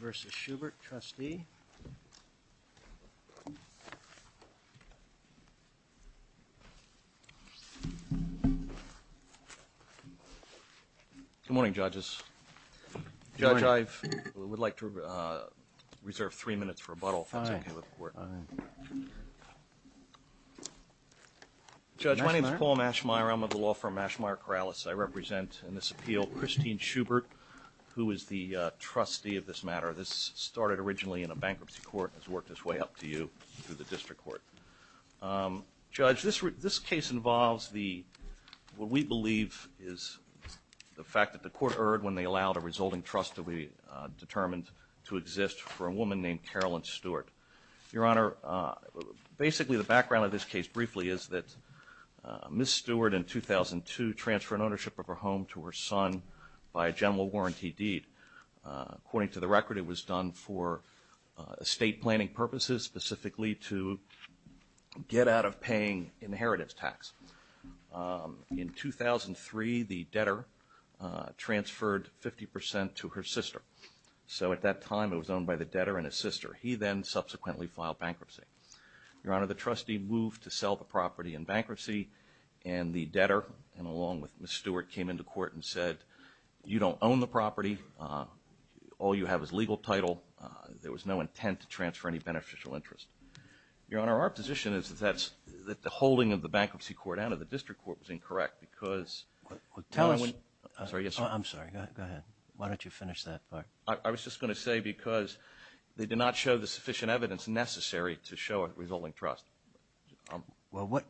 versus Schubert, trustee Good morning judges. Judge, I would like to reserve three minutes for rebuttal if that's okay with the court. Judge, my name is Paul Mashmeyer. I'm of the Schubert, who is the trustee of this matter. This started originally in a bankruptcy court and has worked its way up to you through the district court. Judge, this case involves what we believe is the fact that the court erred when they allowed a resulting trust to be determined to exist for a woman named Carolyn Stewart. Your Honor, basically the background of this case briefly is that Ms. ownership of her home to her son by a general warranty deed. According to the record, it was done for estate planning purposes, specifically to get out of paying inheritance tax. In 2003, the debtor transferred 50% to her sister. So at that time, it was owned by the debtor and his sister. He then subsequently filed bankruptcy. Your Honor, the trustee moved to sell the property in bankruptcy and the debtor, along with Ms. Stewart, came into court and said, you don't own the property. All you have is legal title. There was no intent to transfer any beneficial interest. Your Honor, our position is that the holding of the bankruptcy court out of the district court was incorrect because... I'm sorry, go ahead. Why don't you finish that part? I was just going to say because they did not show the sufficient evidence necessary to show a resulting trust. Well, what,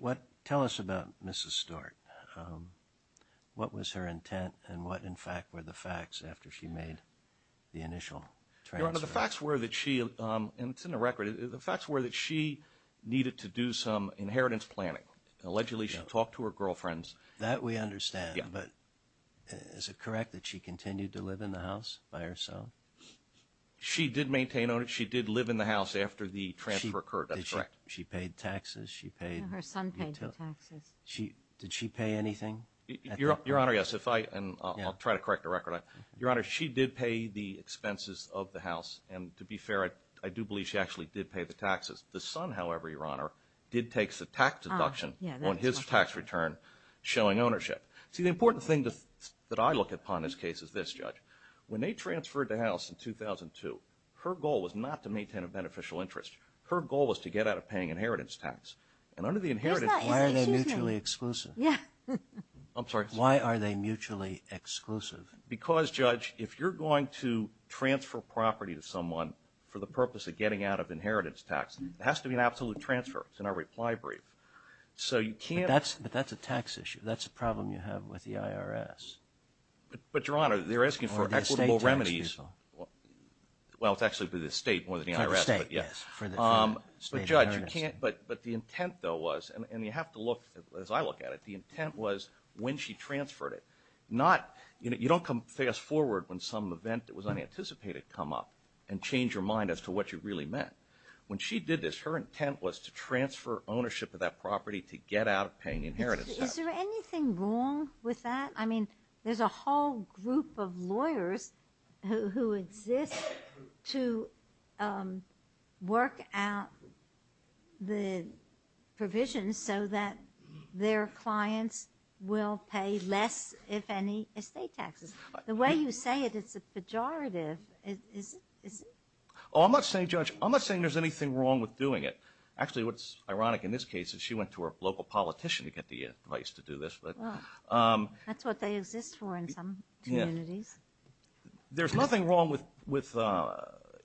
what, tell us about Mrs. Stewart. What was her intent and what, in fact, were the facts after she made the initial transfer? Your Honor, the facts were that she, and it's in the record, the facts were that she needed to do some inheritance planning. Allegedly, she talked to her girlfriends. That we understand, but is it maintain on it? She did live in the house after the transfer occurred. That's correct. She paid taxes, she paid... Her son paid the taxes. Did she pay anything? Your Honor, yes, if I, and I'll try to correct the record. Your Honor, she did pay the expenses of the house, and to be fair, I do believe she actually did pay the taxes. The son, however, Your Honor, did take the tax deduction on his tax return showing ownership. See, the important thing that I look upon this case is this, Judge. When they transferred the house in 2002, her goal was not to maintain a beneficial interest. Her goal was to get out of paying inheritance tax, and under the inheritance... Why are they mutually exclusive? Yeah. I'm sorry. Why are they mutually exclusive? Because, Judge, if you're going to transfer property to someone for the purpose of getting out of inheritance tax, it has to be an absolute transfer. It's in our reply brief. So you can't... But that's, but that's a tax issue. That's a problem you have with the IRS. But, but, Your Honor, they're asking for equitable remedies. Well, it's actually for the state more than the IRS. For the state, yes. But, Judge, you can't... But, but the intent, though, was, and you have to look, as I look at it, the intent was when she transferred it. Not, you know, you don't come fast forward when some event that was unanticipated come up and change your mind as to what you really meant. When she did this, her intent was to transfer ownership of that property to get out of paying inheritance tax. Is there anything wrong with that? I mean, there's a whole group of lawyers who exist to work out the provisions so that their clients will pay less, if any, estate taxes. The way you say it, it's a pejorative. Is it? Oh, I'm not saying, Judge, I'm not saying there's anything wrong with doing it. Actually, what's ironic in this case is she went to her local politician to get the advice to do this. That's what they exist for in some communities. There's nothing wrong with, with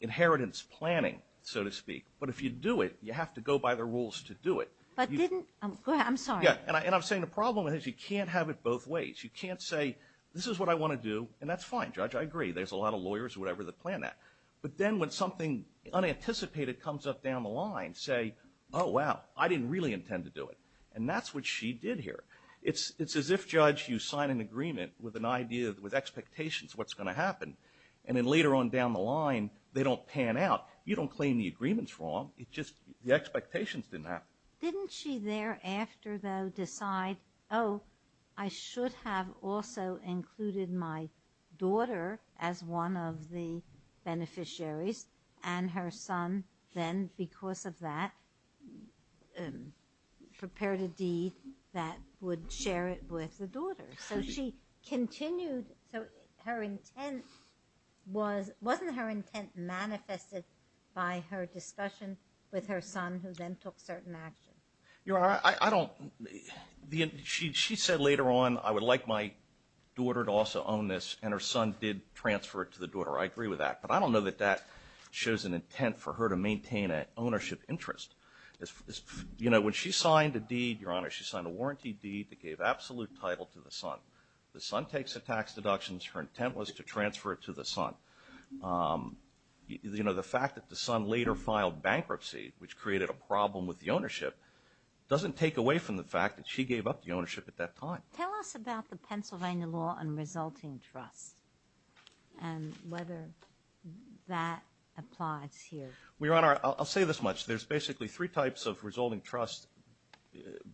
inheritance planning, so to speak. But if you do it, you have to go by the rules to do it. But didn't, I'm sorry. And I'm saying the problem is you can't have it both ways. You can't say, this is what I want to do, and that's fine, Judge, I agree. There's a lot of lawyers or whatever that plan that. But then when something unanticipated comes up down the line, say, oh, wow, I didn't really intend to do it. And that's what she did here. It's, it's as if, Judge, you sign an agreement with an idea, with expectations what's going to happen. And then later on down the line, they don't pan out. You don't claim the agreement's wrong. It's just the expectations didn't happen. Didn't she thereafter, though, decide, oh, I should have also included my daughter as one of the beneficiaries. And her son then, because of that, prepared a deed that would share it with the daughter. So she continued, so her intent was, wasn't her intent manifested by her discussion with her son, who then took certain actions. Your Honor, I don't, she said later on, I would like my daughter to also own this, and her son did transfer it to the daughter. I agree with that. But I don't know that that shows an intent for her to maintain an ownership interest. You know, when she signed a deed, Your Honor, she signed a warranty deed that gave absolute title to the son. The son takes the tax deductions. Her intent was to transfer it to the son. You know, the fact that the son later filed bankruptcy, which created a problem with the ownership, doesn't take away from the fact that she gave up the ownership at that time. Tell us about the Pennsylvania law on resulting trust, and whether that applies here. Well, Your Honor, I'll say this much. There's basically three types of resulting trust,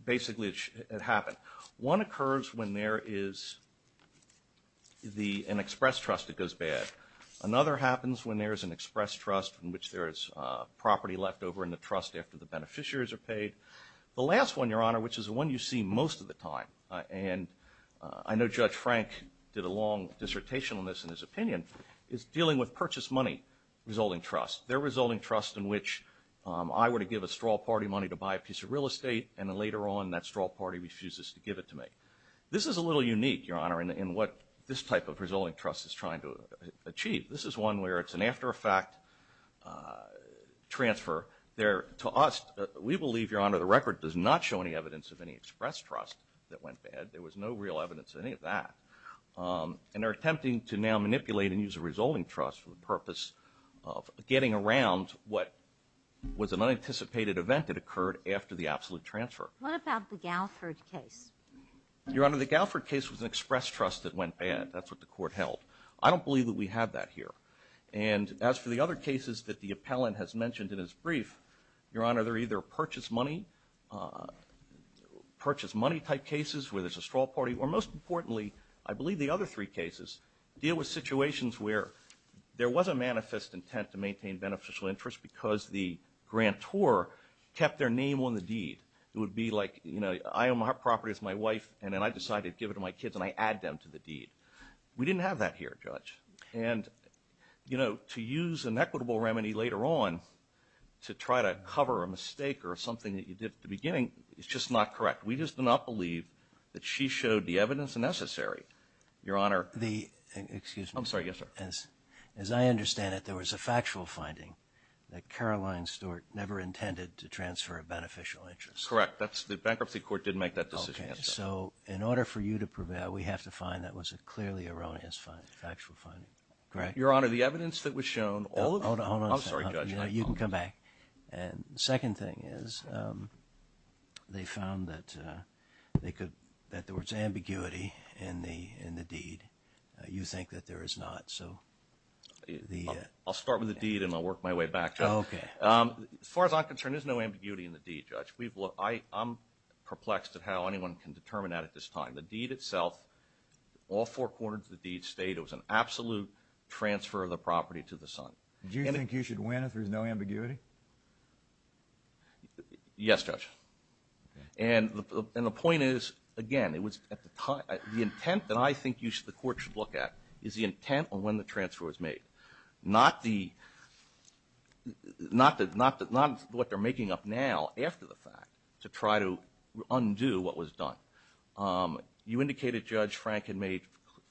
basically, that happen. One occurs when there is an express trust that goes bad. Another happens when there is an express trust in which there is property left over in the trust after the beneficiaries are paid. The last one, Your Honor, which is the one you see most of the time, and I know Judge Frank did a long dissertation on this in his opinion, is dealing with purchase money resulting trust. They're resulting trust in which I were to give a straw party money to buy a piece of real estate, and then later on, that straw party refuses to give it to me. This is a little unique, Your Honor, in what this type of resulting trust is trying to achieve. This is one where it's an after-effect transfer. To us, we believe, Your Honor, the record does not show any evidence of any express trust that went bad. There was no real evidence of any of that. And they're attempting to now manipulate and use a resulting trust for the purpose of getting around what was an unanticipated event that occurred after the absolute transfer. What about the Galford case? Your Honor, the Galford case was an express trust that went bad. That's what the court held. I don't believe that we have that here. And as for the other cases that the appellant has mentioned in his brief, Your Honor, they're either purchase money, purchase money type cases where there's a straw party, or most importantly, I believe the other three cases, deal with situations where there was a manifest intent to maintain beneficial interest because the grant poor kept their name on the deed. It would be like, you know, I own my property, it's my wife, and then I decided to give it to my kids, and I add them to the deed. We didn't have that here, Judge. And, you know, to use an equitable remedy later on to try to cover a mistake or something that you did at the beginning is just not correct. We just do not believe that she showed the evidence necessary. Your Honor. Excuse me. As I understand it, there was a factual finding that Caroline Stewart never intended to transfer a beneficial interest. Correct. That's the bankruptcy court didn't make that decision. Okay. So in order for you to prevail, we have to find that was a clearly erroneous factual finding. Correct? Your Honor, the evidence that was shown, all of it. I'm sorry, Judge. You can come back. And the second thing is they found that they could, that there was ambiguity in the deed. You think that there is not. I'll start with the deed, and I'll work my way back. As far as I'm concerned, there's no ambiguity in the deed, Judge. I'm perplexed at how anyone can determine that at this time. The deed itself, all four corners of the deed state it was an absolute transfer of the property to the son. Do you think you should win if there's no ambiguity? Yes, Judge. And the point is, again, the intent that I think the court should look at is the intent on when the transfer was made. Not what they're making up now after the fact to try to undo what was done. You indicated, Judge, Frank had made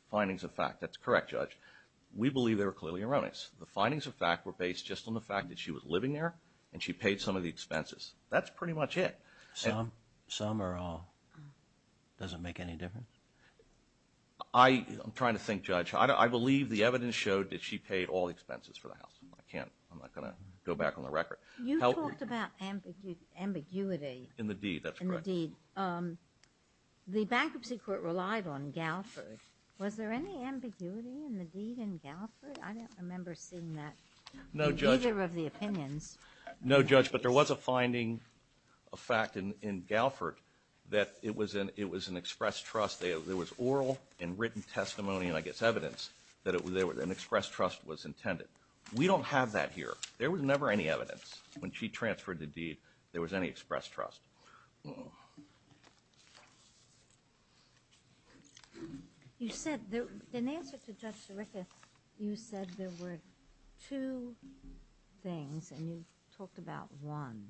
findings of fact. That's correct, Judge. We believe they were clearly erroneous. The findings of fact were based just on the fact that she was living there and she paid some of the expenses. That's pretty much it. Some or all. Does it make any difference? I'm trying to think, Judge. I believe the evidence showed that she paid all the expenses for the house. I can't. I'm not going to go back on the record. You talked about ambiguity. In the deed. That's correct. In the deed, the bankruptcy court relied on Galford. Was there any ambiguity in the deed in Galford? I don't remember seeing that. No, Judge. In either of the opinions. No, Judge, but there was a finding of fact in Galford that it was an expressed trust. There was oral and written testimony and, I guess, evidence that an expressed trust was intended. We don't have that here. There was never any evidence when she transferred the deed there was any expressed trust. You said, in answer to Judge Sirica, you said there were two things and you talked about one.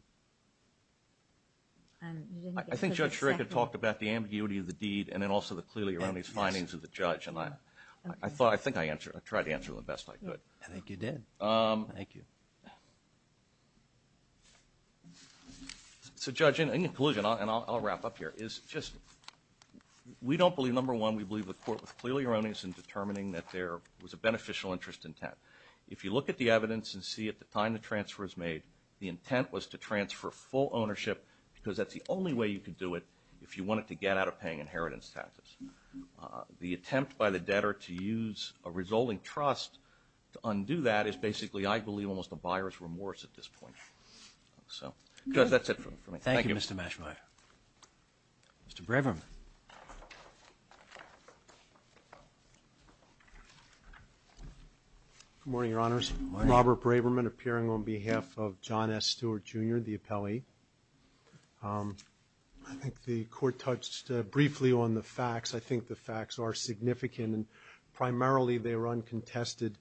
I think Judge Sirica talked about the ambiguity of the deed and then also the clearly erroneous findings of the judge. I think I tried to answer the best I could. I think you did. Thank you. So, Judge, in conclusion, and I'll wrap up here, we don't believe, number one, we believe the court was clearly erroneous in determining that there was a beneficial interest intent. If you look at the evidence and see at the time the transfer was made, the intent was to transfer full ownership because that's the only way you could do it if you wanted to get out of paying inheritance taxes. The attempt by the debtor to use a resulting trust to undo that is basically, I believe, almost a buyer's remorse at this point. So, Judge, that's it for me. Thank you. Thank you, Mr. Mashbaier. Mr. Braverman. Good morning, Your Honors. Good morning. Robert Braverman appearing on behalf of John S. Stewart, Jr., the appellee. I think the court touched briefly on the facts. I think the facts are significant. Primarily, they were uncontested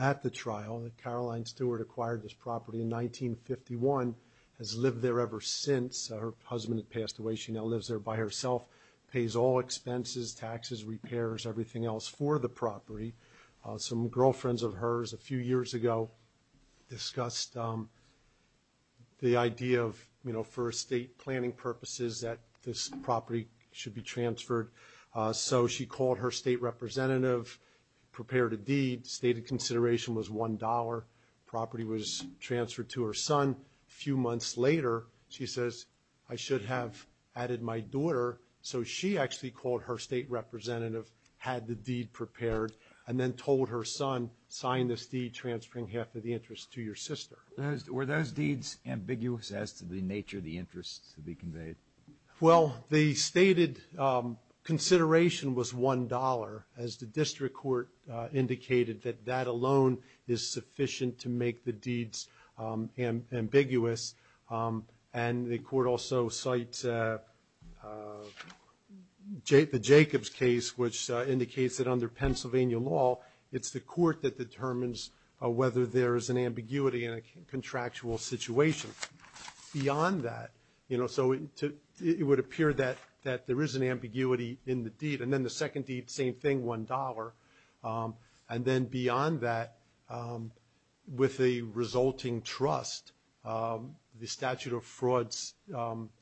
at the trial. Caroline Stewart acquired this property in 1951, has lived there ever since. Her husband had passed away. She now lives there by herself, pays all expenses, taxes, repairs, everything else for the property. Some girlfriends of hers a few years ago discussed the idea of, you know, for estate planning purposes that this property should be transferred. So she called her state representative, prepared a deed, stated consideration was $1. Property was transferred to her son. A few months later, she says, I should have added my daughter. So she actually called her state representative, had the deed prepared, and then told her son, sign this deed transferring half of the interest to your sister. Were those deeds ambiguous as to the nature of the interest to be conveyed? Well, the stated consideration was $1, as the district court indicated, that that alone is sufficient to make the deeds ambiguous. And the court also cites the Jacobs case, which indicates that under Pennsylvania law, it's the court that determines whether there is an ambiguity in a contractual situation. Beyond that, you know, so it would appear that there is an ambiguity in the deed. And then the second deed, same thing, $1. And then beyond that, with a resulting trust, the statute of frauds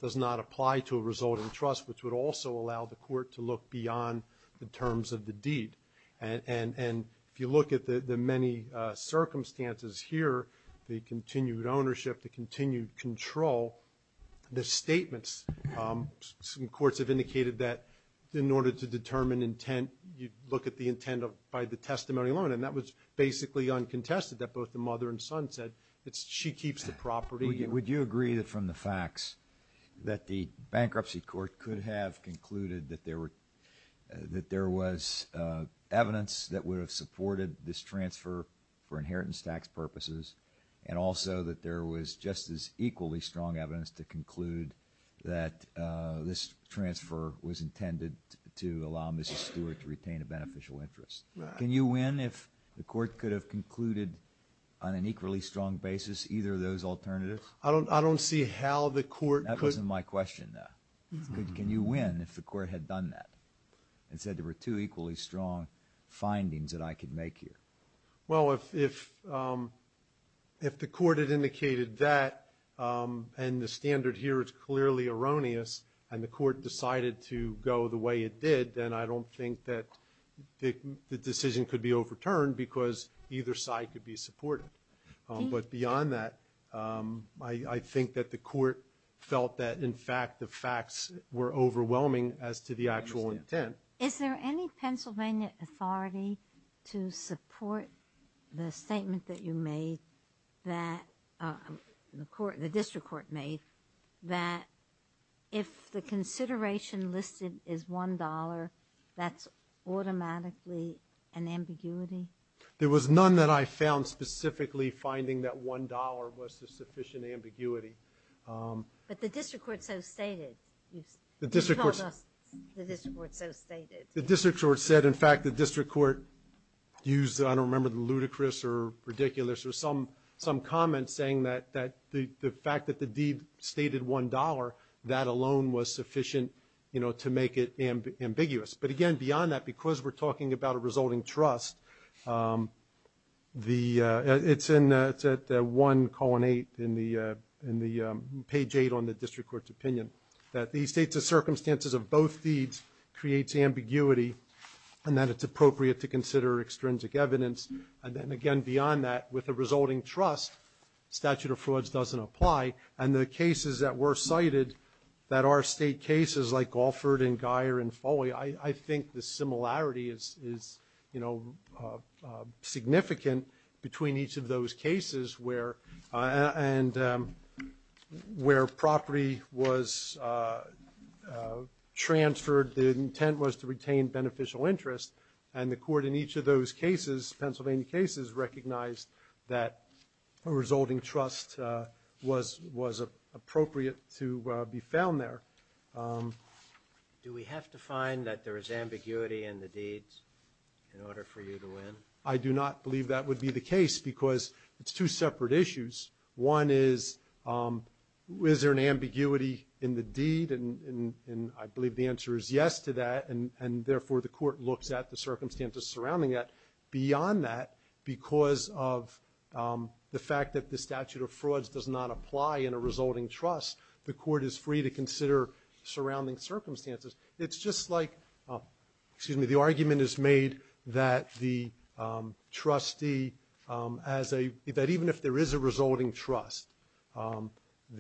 does not apply to a resulting trust, which would also allow the court to look beyond the terms of the deed. And if you look at the many circumstances here, the continued ownership, the continued control, the statements, some courts have indicated that in order to determine intent, you look at the intent by the testimony alone. And that was basically uncontested, that both the mother and son said, she keeps the property. Would you agree that from the facts that the bankruptcy court could have concluded that there was evidence that would have supported this transfer for inheritance tax purposes, and also that there was just as equally strong evidence to conclude that this transfer was intended to allow Mrs. Stewart to retain a beneficial interest? Can you win if the court could have concluded on an equally strong basis either of those alternatives? I don't see how the court could. That wasn't my question, though. Can you win if the court had done that and said there were two equally strong findings that I could make here? Well, if the court had indicated that, and the standard here is clearly erroneous, and the court decided to go the way it did, then I don't think that the decision could be overturned because either side could be supportive. But beyond that, I think that the court felt that, in fact, the facts were overwhelming as to the actual intent. Is there any Pennsylvania authority to support the statement that you made, the district court made, that if the consideration listed is $1, that's automatically an ambiguity? There was none that I found specifically finding that $1 was a sufficient ambiguity. But the district court so stated. You told us the district court so stated. The district court said, in fact, the district court used, I don't remember, ludicrous or ridiculous or some comment saying that the fact that the deed stated $1, that alone was sufficient to make it ambiguous. But again, beyond that, because we're talking about a resulting trust, it's at 1,8 in page 8 on the district court's opinion, that the circumstances of both deeds creates ambiguity and that it's appropriate to consider extrinsic evidence. And then again, beyond that, with a resulting trust, statute of frauds doesn't apply. And the cases that were cited, that are state cases like Alford and Guyer and Foley, I think the similarity is significant between each of those cases where property was transferred, the intent was to retain beneficial interest. And the court in each of those cases, Pennsylvania cases, recognized that a resulting trust was appropriate to be found there. Do we have to find that there is ambiguity in the deeds in order for you to win? I do not believe that would be the case because it's two separate issues. One is, is there an ambiguity in the deed? And I believe the answer is yes to that. And therefore, the court looks at the circumstances surrounding that. Beyond that, because of the fact that the statute of frauds does not apply in a resulting trust, the court is free to consider surrounding circumstances. It's just like, excuse me, the argument is made that the trustee, that even if there is a resulting trust, and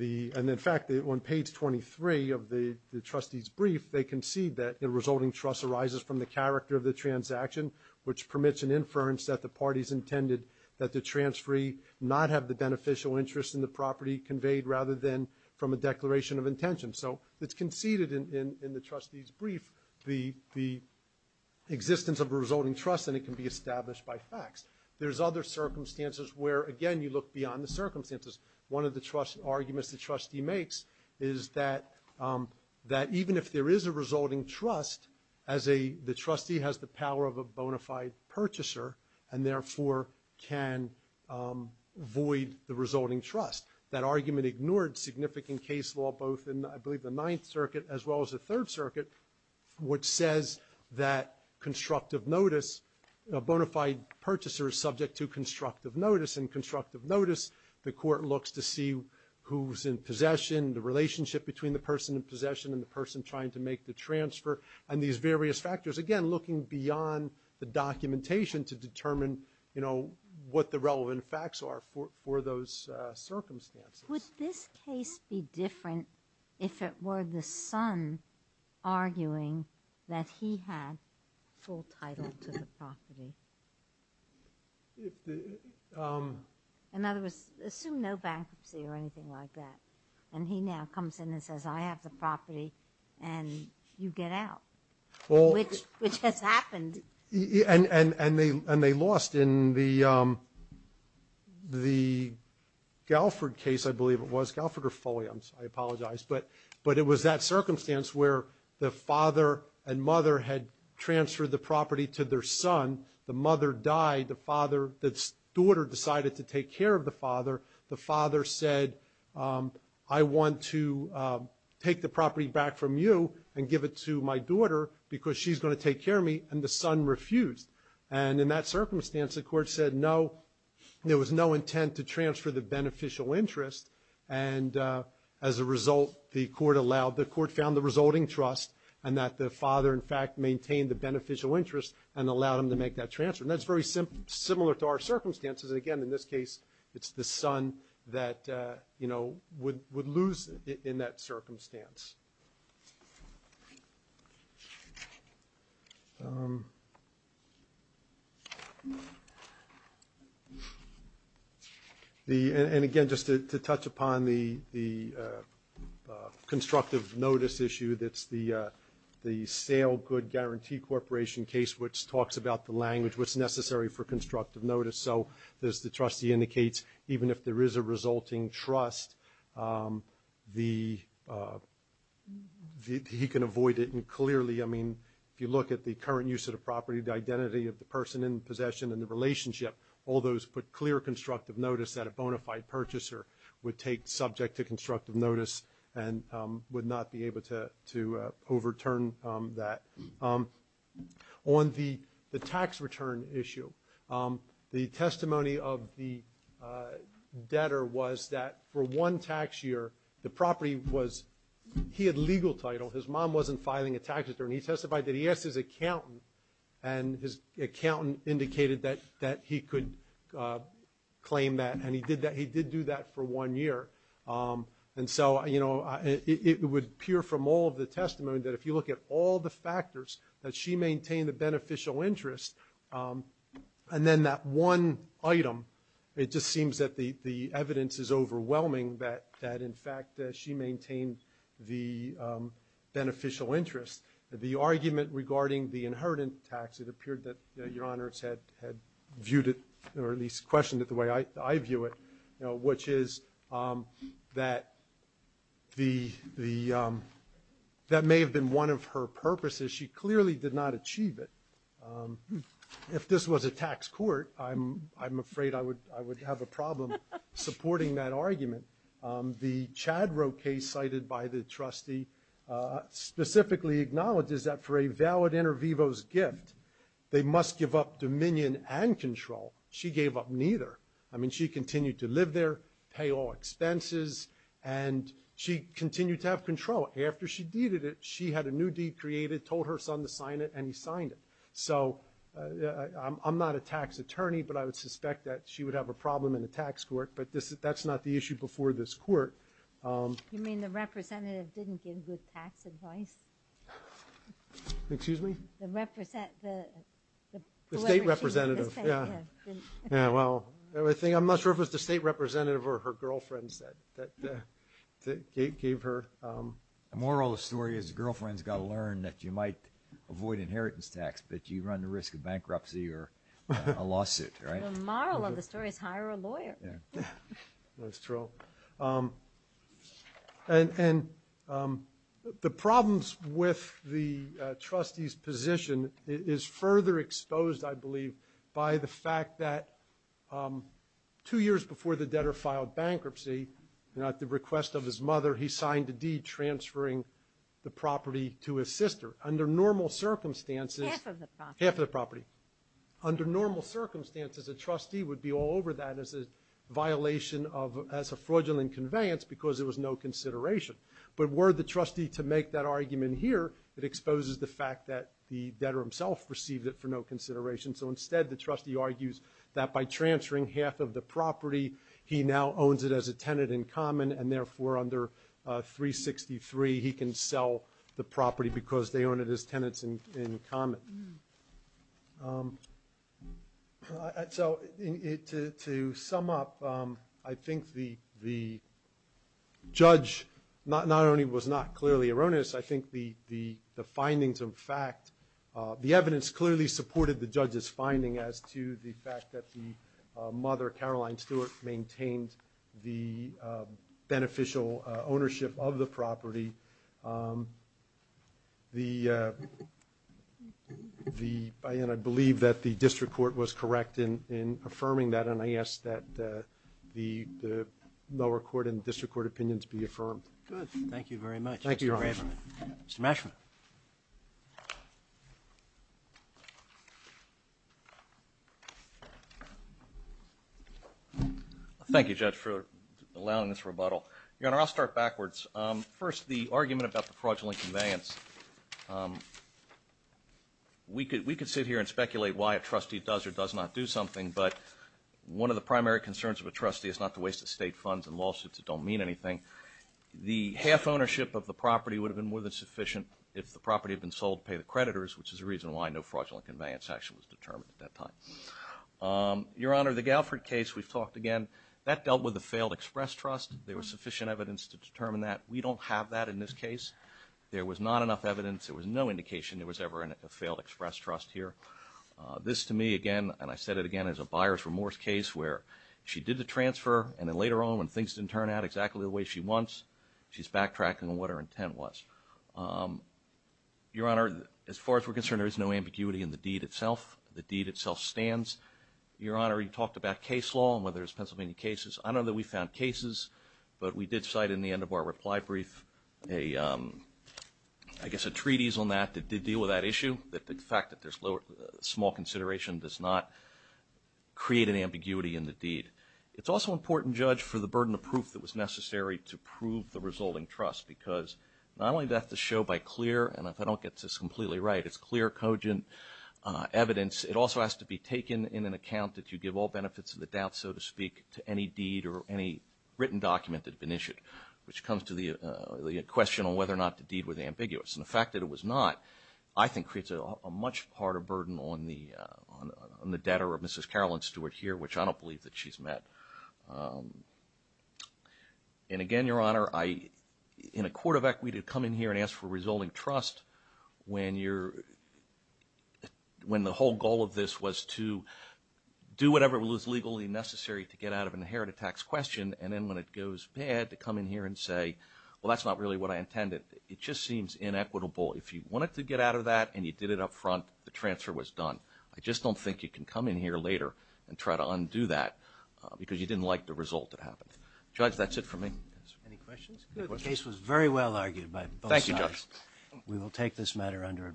in fact, on page 23 of the trustee's brief, they concede that a resulting trust arises from the character of the transaction, which permits an inference that the parties intended that the transferee not have the beneficial interest in the property conveyed rather than from a declaration of intention. So it's conceded in the trustee's brief the existence of a resulting trust and it can be established by facts. There's other circumstances where, again, you look beyond the circumstances. One of the arguments the trustee makes is that even if there is a resulting trust, the trustee has the power of a bona fide purchaser and therefore can void the resulting trust. That argument ignored significant case law both in, I believe, the Ninth Circuit as well as the Third Circuit, which says that constructive notice, a bona fide purchaser is subject to constructive notice. In constructive notice, the court looks to see who's in possession, the relationship between the person in possession and the person trying to make the transfer. And these various factors, again, looking beyond the documentation to determine, you know, what the relevant facts are for those circumstances. Would this case be different if it were the son arguing that he had full title to the property? In other words, assume no bankruptcy or anything like that. And he now comes in and says, I have the property and you get out, which has happened. And they lost in the Galford case, I believe it was. Galford or Foley, I apologize. But it was that circumstance where the father and mother had transferred the property to their son. The mother died. The father, the daughter decided to take care of the father. The father said, I want to take the property back from you and give it to my daughter because she's going to take care of me. And the son refused. And in that circumstance, the court said, no, there was no intent to transfer the beneficial interest. And as a result, the court allowed, the court found the resulting trust and that the father, in fact, maintained the beneficial interest and allowed him to make that transfer. And that's very similar to our circumstances. And again, in this case, it's the son that, you know, would lose in that circumstance. And again, just to touch upon the constructive notice issue, that's the sale good guarantee corporation case, which talks about the language, what's necessary for constructive notice. So as the trustee indicates, even if there is a resulting trust, he can avoid it. And clearly, I mean, if you look at the current use of the property, the identity of the person in possession and the relationship, all those put clear constructive notice that a bona fide purchaser would take subject to constructive notice and would not be able to overturn that. On the tax return issue, the testimony of the debtor was that for one tax year, the property was, he had legal title. His mom wasn't filing a tax return. He testified that he asked his accountant, and his accountant indicated that he could claim that. And he did that, he did do that for one year. And so, you know, it would appear from all of the testimony that if you look at all the factors that she maintained the beneficial interest, and then that one item, it just seems that the evidence is overwhelming that, in fact, she maintained the beneficial interest. The argument regarding the inheritance tax, it appeared that Your Honors had viewed it, or at least questioned it the way I view it, which is that may have been one of her purposes. She clearly did not achieve it. If this was a tax court, I'm afraid I would have a problem supporting that argument. The Chadrow case cited by the trustee specifically acknowledges that for a valid inter vivos gift, they must give up dominion and control. She gave up neither. I mean, she continued to live there, pay all expenses, and she continued to have control. After she deeded it, she had a new deed created, told her son to sign it, and he signed it. So I'm not a tax attorney, but I would suspect that she would have a problem in a tax court. But that's not the issue before this court. You mean the representative didn't give good tax advice? Excuse me? The state representative. Yeah, well, I'm not sure if it was the state representative or her girlfriends that gave her. The moral of the story is the girlfriend's got to learn that you might avoid inheritance tax, but you run the risk of bankruptcy or a lawsuit, right? The moral of the story is hire a lawyer. That's true. And the problems with the trustee's position is further exposed, I believe, by the fact that two years before the debtor filed bankruptcy, at the request of his mother, he signed a deed transferring the property to his sister. Under normal circumstances. Half of the property. Half of the property. Under normal circumstances, a trustee would be all over that as a violation of as a fraudulent conveyance because there was no consideration. But were the trustee to make that argument here, it exposes the fact that the debtor himself received it for no consideration. So instead, the trustee argues that by transferring half of the property, he now owns it as a tenant in common, and therefore under 363, he can sell the property because they own it as tenants in common. So to sum up, I think the judge not only was not clearly erroneous, I think the findings of fact, the evidence clearly supported the judge's finding as to the fact that the mother, Caroline Stewart, maintained the beneficial ownership of the property. The, and I believe that the district court was correct in affirming that, and I ask that the lower court and district court opinions be affirmed. Good. Thank you very much. Thank you, Your Honor. Mr. Mashman. Thank you, Judge, for allowing this rebuttal. Your Honor, I'll start backwards. First, the argument about the fraudulent conveyance. We could sit here and speculate why a trustee does or does not do something, but one of the primary concerns of a trustee is not to waste estate funds and lawsuits that don't mean anything. The half ownership of the property would have been more than sufficient if the property had been sold to pay the creditors, which is the reason why no fraudulent conveyance action was determined at that time. Your Honor, the Galford case we've talked again, that dealt with a failed express trust. There was sufficient evidence to determine that. We don't have that in this case. There was not enough evidence. There was no indication there was ever a failed express trust here. This to me, again, and I said it again, is a buyer's remorse case where she did the transfer, and then later on when things didn't turn out exactly the way she wants, she's backtracking on what her intent was. Your Honor, as far as we're concerned, there is no ambiguity in the deed itself. The deed itself stands. Your Honor, you talked about case law and whether there's Pennsylvania cases. I know that we found cases, but we did cite in the end of our reply brief, I guess, a treatise on that that did deal with that issue, that the fact that there's small consideration does not create an ambiguity in the deed. It's also important, Judge, for the burden of proof that was necessary to prove the resulting trust because not only does that have to show by clear, and if I don't get this completely right, it's clear, cogent evidence, it also has to be taken in an account that you give all benefits of the doubt, so to speak, to any deed or any written document that had been issued, which comes to the question on whether or not the deed was ambiguous. And the fact that it was not, I think, creates a much harder burden on the debtor of Mrs. Carolyn Stewart here, which I don't believe that she's met. And again, Your Honor, in a court of equity to come in here and ask for resulting trust when the whole goal of this was to do whatever was legally necessary to get out of an inherited tax question, and then when it goes bad to come in here and say, well, that's not really what I intended. It just seems inequitable. If you wanted to get out of that and you did it up front, the transfer was done. I just don't think you can come in here later and try to undo that because you didn't like the result that happened. Judge, that's it for me. Any questions? The case was very well argued by both sides. Thank you, Judge. We will take this matter under advisement. Thank you.